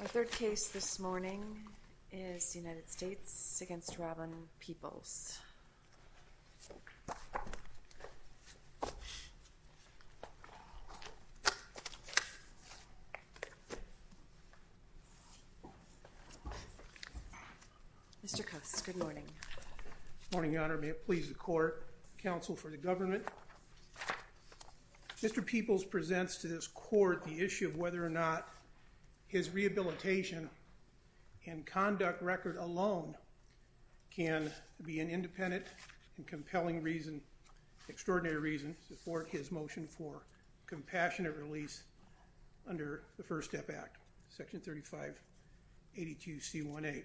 Our third case this morning is the United States v. Robin Peoples. Mr. Coates, good morning. Good morning, Your Honor. May it please the court, counsel for the government. Mr. Peoples presents to this court the issue of whether or not his rehabilitation and conduct record alone can be an independent and compelling reason, extraordinary reason, to support his motion for compassionate release under the First Step Act, Section 3582C1A.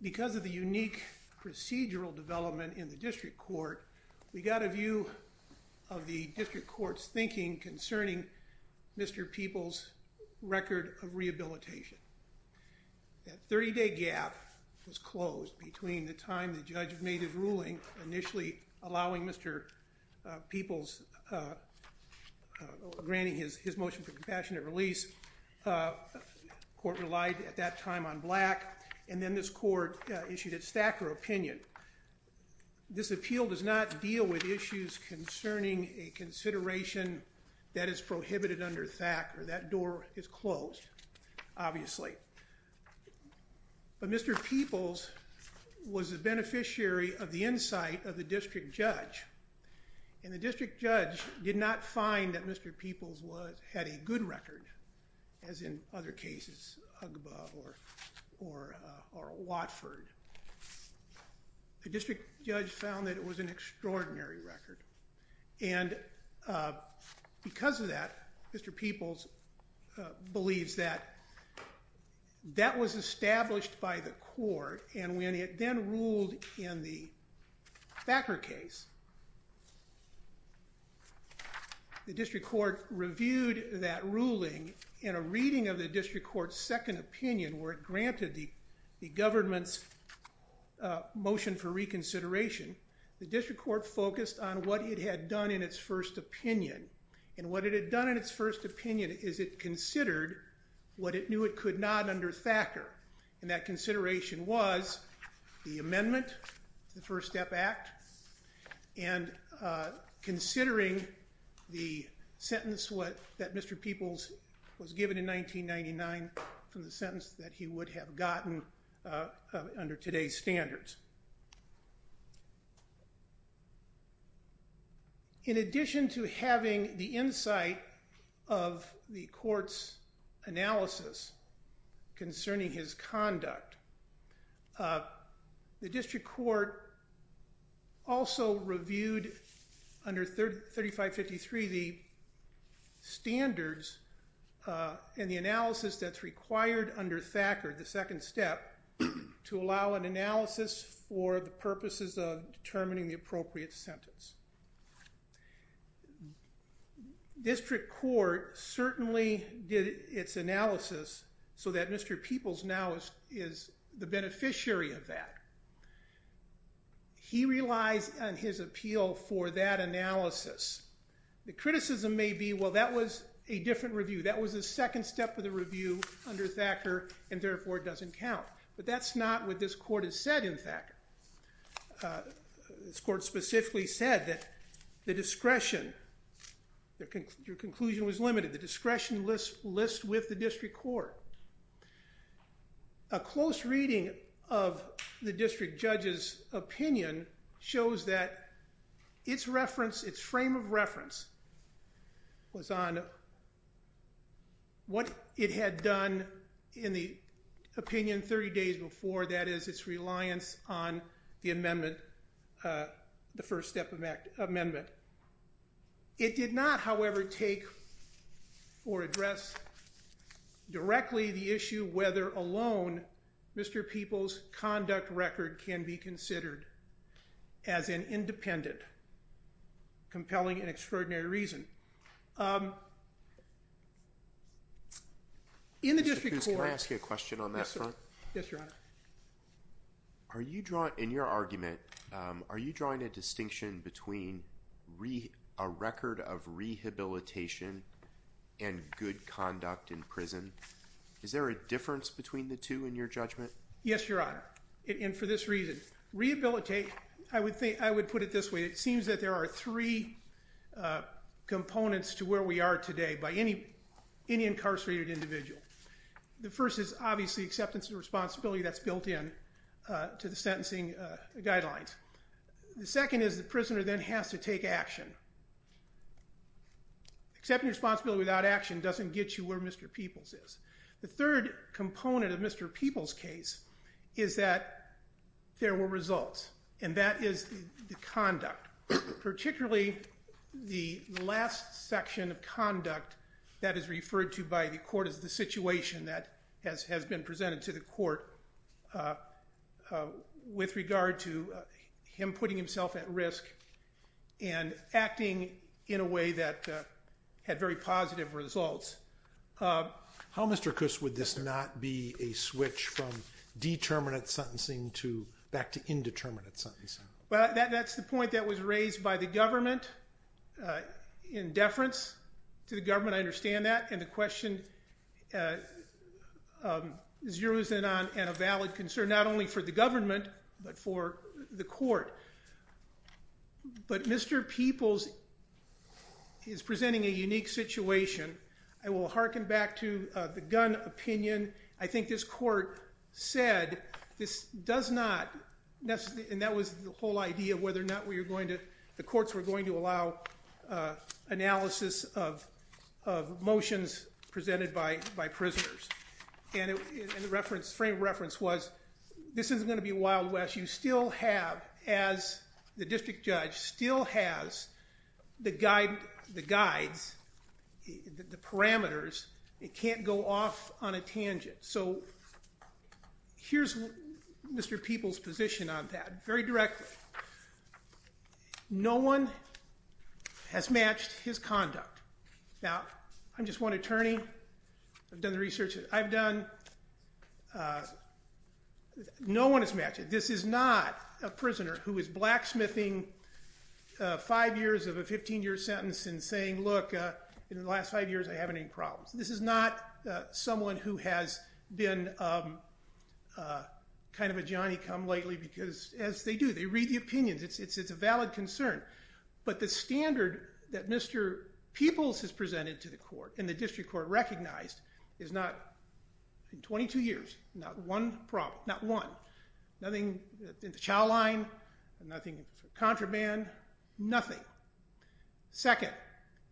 Because of the unique procedural development in the district court, we got a view of the district court's thinking concerning Mr. Peoples' record of rehabilitation. That 30-day gap was closed between the time the judge made his ruling initially allowing Mr. Peoples, granting his motion for compassionate release, the court relied at that time on Black, and then this court issued its Thacker opinion. This appeal does not deal with issues concerning a consideration that is prohibited under Thacker. That door is closed, obviously. But Mr. Peoples was a beneficiary of the insight of the district judge, and the district judge did not find that Mr. Peoples had a good record, as in other cases, Ugba or Watford. The district judge found that it was an extraordinary record, and because of that, Mr. Peoples believes that that was established by the court, and when it then ruled in the Thacker case, the district court reviewed that ruling in a reading of the district court's second opinion, where it granted the government's motion for reconsideration. The district court focused on what it had done in its first opinion, and what it had done in its first opinion is it considered what it knew it could not under Thacker, and that consideration was the amendment to the First Step Act, and considering the sentence that Mr. Peoples was given in 1999 from the sentence that he would have gotten under today's standards. In addition to having the insight of the court's analysis concerning his conduct, the district court also reviewed under 3553 the standards and the analysis that's required under Thacker, the second step, to allow an analysis for the purposes of determining the appropriate sentence. District court certainly did its analysis so that Mr. Peoples now is the beneficiary of that. He relies on his appeal for that analysis. The criticism may be, well, that was a different review. That was the second step of the review under Thacker, and therefore it doesn't count, but that's not what this court has said in Thacker. This court specifically said that the discretion, your conclusion was limited, the discretion lists with the district court. A close reading of the district judge's opinion shows that its reference, its frame of reference was on what it had done in the opinion 30 days before, that is, its reliance on the amendment, the First Step Amendment. It did not, however, take or address directly the issue whether alone Mr. Peoples' conduct record can be considered as an independent, compelling, and extraordinary reason. In your argument, are you drawing a distinction between a record of rehabilitation and good conduct in prison? Is there a difference between the two in your judgment? Yes, Your Honor, and for this reason, rehabilitate, I would put it this way, it seems that there are three components to where we are today by any incarcerated individual. The first is obviously acceptance of responsibility that's built in to the sentencing guidelines. The second is the prisoner then has to take action. Accepting responsibility without action doesn't get you where Mr. Peoples is. The third component of Mr. Peoples' case is that there were results, and that is the conduct. Particularly the last section of conduct that is referred to by the court as the situation that has been presented to the court with regard to him putting himself at risk and acting in a way that had very positive results. How, Mr. Kuss, would this not be a switch from determinate sentencing back to indeterminate sentencing? That's the point that was raised by the government in deference to the government, I understand that, and the question is yours and a valid concern not only for the government but for the court. But Mr. Peoples is presenting a unique situation. I will hearken back to the gun opinion. I think this court said this does not, and that was the whole idea of whether or not the courts were going to allow analysis of motions presented by prisoners. And the frame of reference was this isn't going to be Wild West. You still have, as the district judge, still has the guides, the parameters. It can't go off on a tangent. So here's Mr. Peoples' position on that very directly. No one has matched his conduct. Now, I'm just one attorney. I've done the research that I've done. No one has matched it. This is not a prisoner who is blacksmithing five years of a 15-year sentence and saying, look, in the last five years I haven't had any problems. This is not someone who has been kind of a Johnny-come-lately because, as they do, they read the opinions. It's a valid concern. But the standard that Mr. Peoples has presented to the court and the district court recognized is not, in 22 years, not one problem, not one. Nothing in the child line, nothing in contraband, nothing. Second,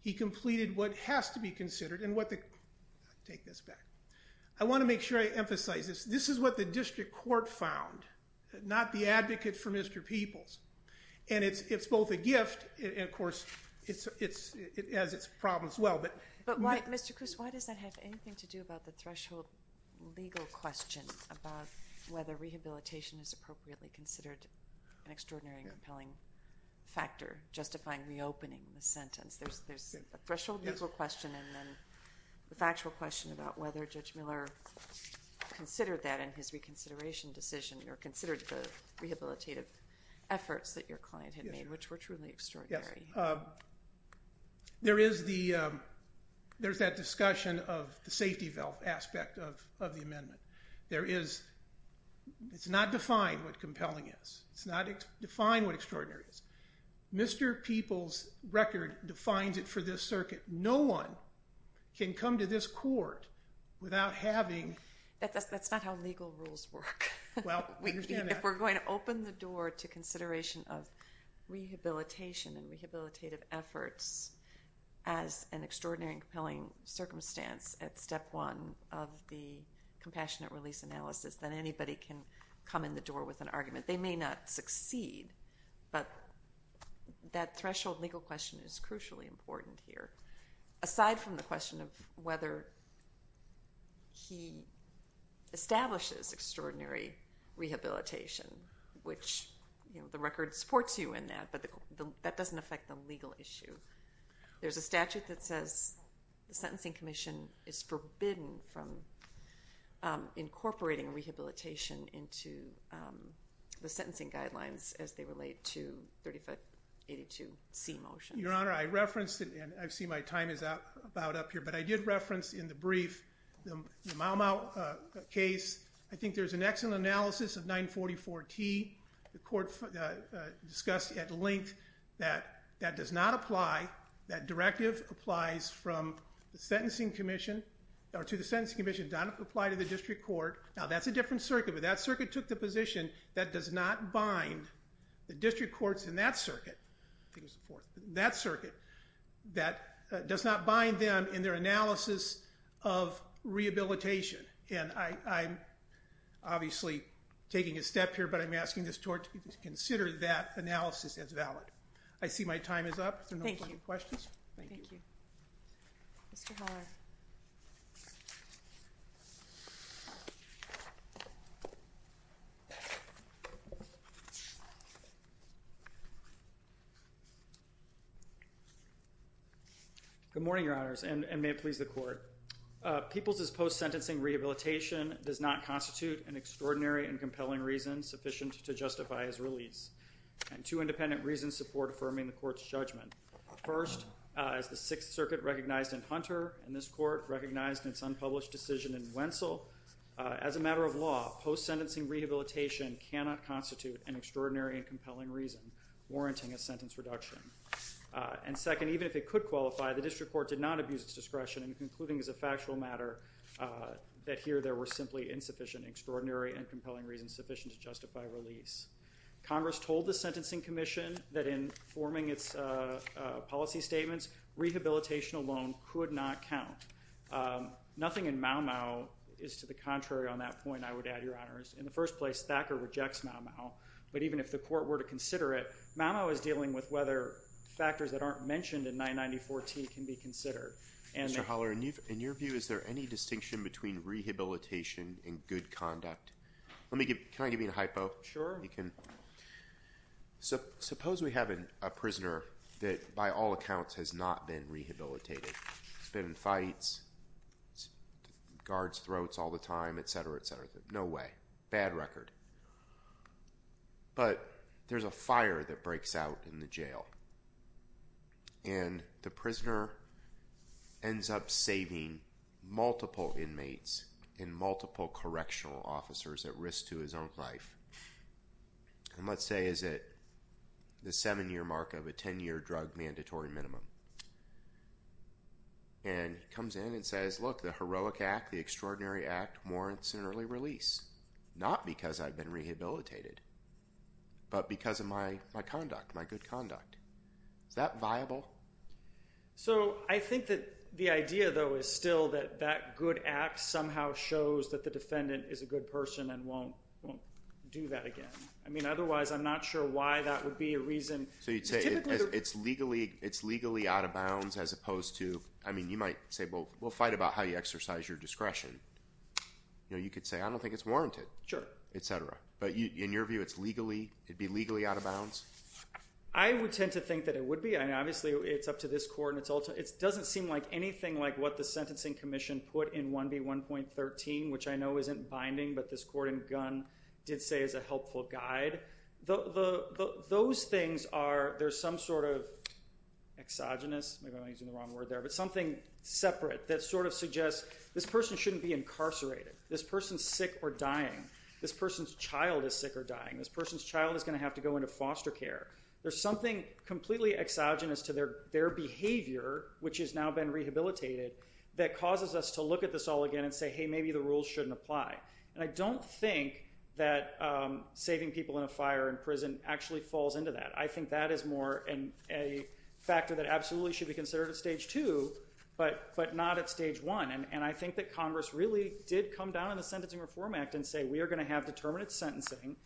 he completed what has to be considered and what the – I'll take this back. I want to make sure I emphasize this. This is what the district court found, not the advocate for Mr. Peoples. And it's both a gift and, of course, it has its problems as well. But, Mr. Coos, why does that have anything to do about the threshold legal question about whether rehabilitation is appropriately considered an extraordinary and compelling factor, justifying reopening the sentence? There's a threshold legal question and then the factual question about whether Judge Miller considered that in his reconsideration decision or considered the rehabilitative efforts that your client had made, which were truly extraordinary. Yes. There is the – there's that discussion of the safety valve aspect of the amendment. There is – it's not defined what compelling is. It's not defined what extraordinary is. Mr. Peoples' record defines it for this circuit. No one can come to this court without having – That's not how legal rules work. If we're going to open the door to consideration of rehabilitation and rehabilitative efforts as an extraordinary and compelling circumstance at step one of the compassionate release analysis, then anybody can come in the door with an argument. They may not succeed, but that threshold legal question is crucially important here. Aside from the question of whether he establishes extraordinary rehabilitation, which the record supports you in that, but that doesn't affect the legal issue. There's a statute that says the Sentencing Commission is forbidden from incorporating rehabilitation into the sentencing guidelines as they relate to 3582C motions. Your Honor, I referenced it, and I see my time is about up here, but I did reference in the brief the Mau Mau case. I think there's an excellent analysis of 944T. The court discussed at length that that does not apply. That directive applies from the Sentencing Commission – or to the Sentencing Commission. It does not apply to the district court. Now, that's a different circuit, but that circuit took the position that does not bind the district courts in that circuit. That circuit does not bind them in their analysis of rehabilitation, and I'm obviously taking a step here, but I'm asking this court to consider that analysis as valid. I see my time is up. Are there no further questions? Thank you. Mr. Haller. Good morning, Your Honors, and may it please the court. Peoples' post-sentencing rehabilitation does not constitute an extraordinary and compelling reason sufficient to justify his release, and two independent reasons support affirming the court's judgment. First, as the Sixth Circuit recognized in Hunter and this court recognized in its unpublished decision in Wentzel, as a matter of law, post-sentencing rehabilitation cannot constitute an extraordinary and compelling reason warranting a sentence reduction. And second, even if it could qualify, the district court did not abuse its discretion in concluding as a factual matter that here there were simply insufficient, extraordinary and compelling reasons sufficient to justify release. Congress told the Sentencing Commission that in forming its policy statements, rehabilitation alone could not count. Nothing in Mau Mau is to the contrary on that point, I would add, Your Honors. In the first place, Thacker rejects Mau Mau. But even if the court were to consider it, Mau Mau is dealing with whether factors that aren't mentioned in 994-T can be considered. Mr. Haller, in your view, is there any distinction between rehabilitation and good conduct? Can I give you a hypo? Sure. Suppose we have a prisoner that, by all accounts, has not been rehabilitated. He's been in fights, guards throats all the time, et cetera, et cetera. No way. Bad record. But there's a fire that breaks out in the jail. And the prisoner ends up saving multiple inmates and multiple correctional officers at risk to his own life. And let's say he's at the seven-year mark of a ten-year drug mandatory minimum. And he comes in and says, Look, the heroic act, the extraordinary act warrants an early release. Not because I've been rehabilitated, but because of my conduct, my good conduct. Is that viable? So I think that the idea, though, is still that that good act somehow shows that the defendant is a good person and won't do that again. I mean, otherwise, I'm not sure why that would be a reason. So you'd say it's legally out of bounds as opposed to, I mean, you might say, Well, we'll fight about how you exercise your discretion. You could say, I don't think it's warranted, et cetera. But in your view, it'd be legally out of bounds? I would tend to think that it would be. I mean, obviously, it's up to this court. It doesn't seem like anything like what the Sentencing Commission put in 1B1.13, which I know isn't binding, but this court in Gunn did say is a helpful guide. Those things are, there's some sort of exogenous, maybe I'm using the wrong word there, but something separate that sort of suggests this person shouldn't be incarcerated. This person's sick or dying. This person's child is sick or dying. This person's child is going to have to go into foster care. There's something completely exogenous to their behavior, which has now been rehabilitated, that causes us to look at this all again and say, Hey, maybe the rules shouldn't apply. And I don't think that saving people in a fire in prison actually falls into that. I think that is more a factor that absolutely should be considered at Stage 2, but not at Stage 1. And I think that Congress really did come down on the Sentencing Reform Act and say, We are going to have determinate sentencing,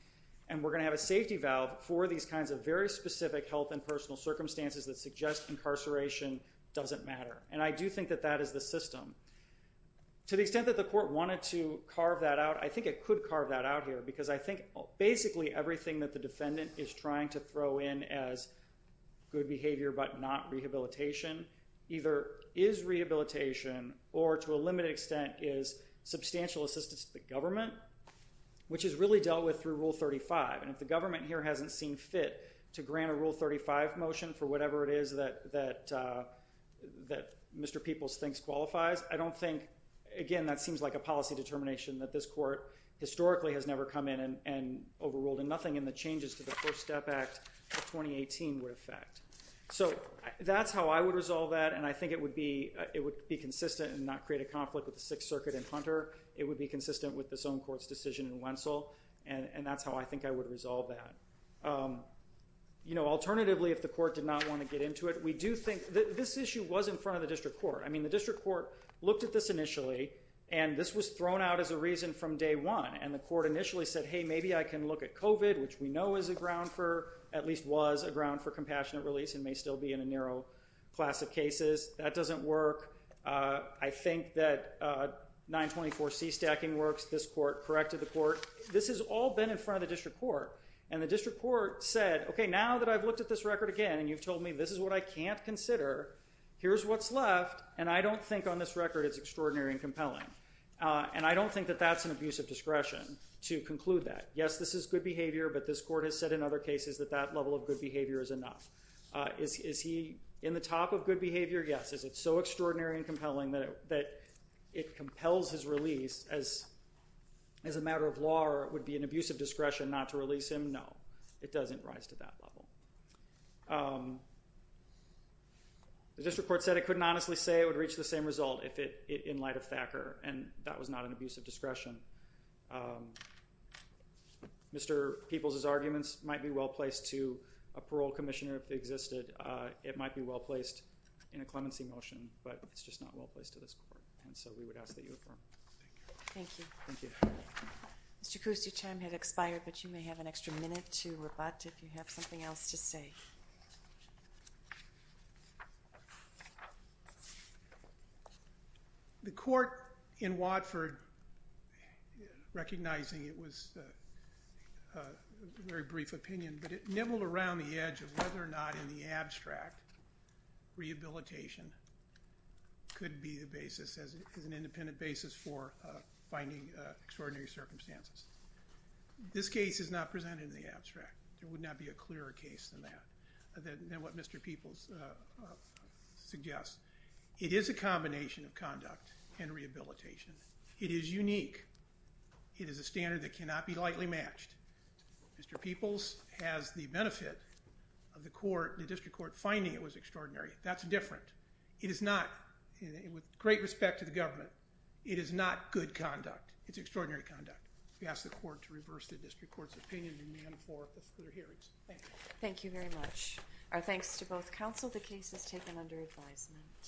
and we're going to have a safety valve for these kinds of very specific health and personal circumstances that suggest incarceration doesn't matter. And I do think that that is the system. To the extent that the court wanted to carve that out, I think it could carve that out here, because I think basically everything that the defendant is trying to throw in as good behavior but not rehabilitation either is rehabilitation or, to a limited extent, is substantial assistance to the government, which is really dealt with through Rule 35. And if the government here hasn't seen fit to grant a Rule 35 motion for whatever it is that Mr. Peoples thinks qualifies, I don't think, again, that seems like a policy determination that this court historically has never come in and overruled. And nothing in the changes to the First Step Act of 2018 would affect. So that's how I would resolve that, and I think it would be consistent and not create a conflict with the Sixth Circuit and Hunter. It would be consistent with this own court's decision in Wentzel, and that's how I think I would resolve that. Alternatively, if the court did not want to get into it, we do think that this issue was in front of the district court. I mean, the district court looked at this initially, and this was thrown out as a reason from day one. And the court initially said, Hey, maybe I can look at COVID, which we know is a ground for, at least was a ground for compassionate release and may still be in a narrow class of cases. That doesn't work. I think that 924C stacking works. This court corrected the court. This has all been in front of the district court. And the district court said, OK, now that I've looked at this record again and you've told me this is what I can't consider, here's what's left, and I don't think on this record it's extraordinary and compelling. And I don't think that that's an abuse of discretion to conclude that. Yes, this is good behavior, but this court has said in other cases that that level of good behavior is enough. Is he in the top of good behavior? Yes. Is it so extraordinary and compelling that it compels his release as a matter of law or it would be an abuse of discretion not to release him? No, it doesn't rise to that level. The district court said it couldn't honestly say it would reach the same result in light of Thacker, and that was not an abuse of discretion. Mr. Peoples's arguments might be well placed to a parole commissioner if they existed. And it might be well placed in a clemency motion, but it's just not well placed to this court. And so we would ask that you affirm. Thank you. Thank you. Mr. Coos, your time has expired, but you may have an extra minute to rebut if you have something else to say. The court in Watford, recognizing it was a very brief opinion, but it nibbled around the edge of whether or not in the abstract rehabilitation could be the basis as an independent basis for finding extraordinary circumstances. This case is not presented in the abstract. There would not be a clearer case than that, than what Mr. Peoples suggests. It is a combination of conduct and rehabilitation. It is unique. It is a standard that cannot be lightly matched. Mr. Peoples has the benefit of the court, the district court, finding it was extraordinary. That's different. It is not, with great respect to the government, it is not good conduct. It's extraordinary conduct. We ask the court to reverse the district court's opinion and demand for a further hearing. Thank you. Thank you very much. Our thanks to both counsel. The case is taken under advisement.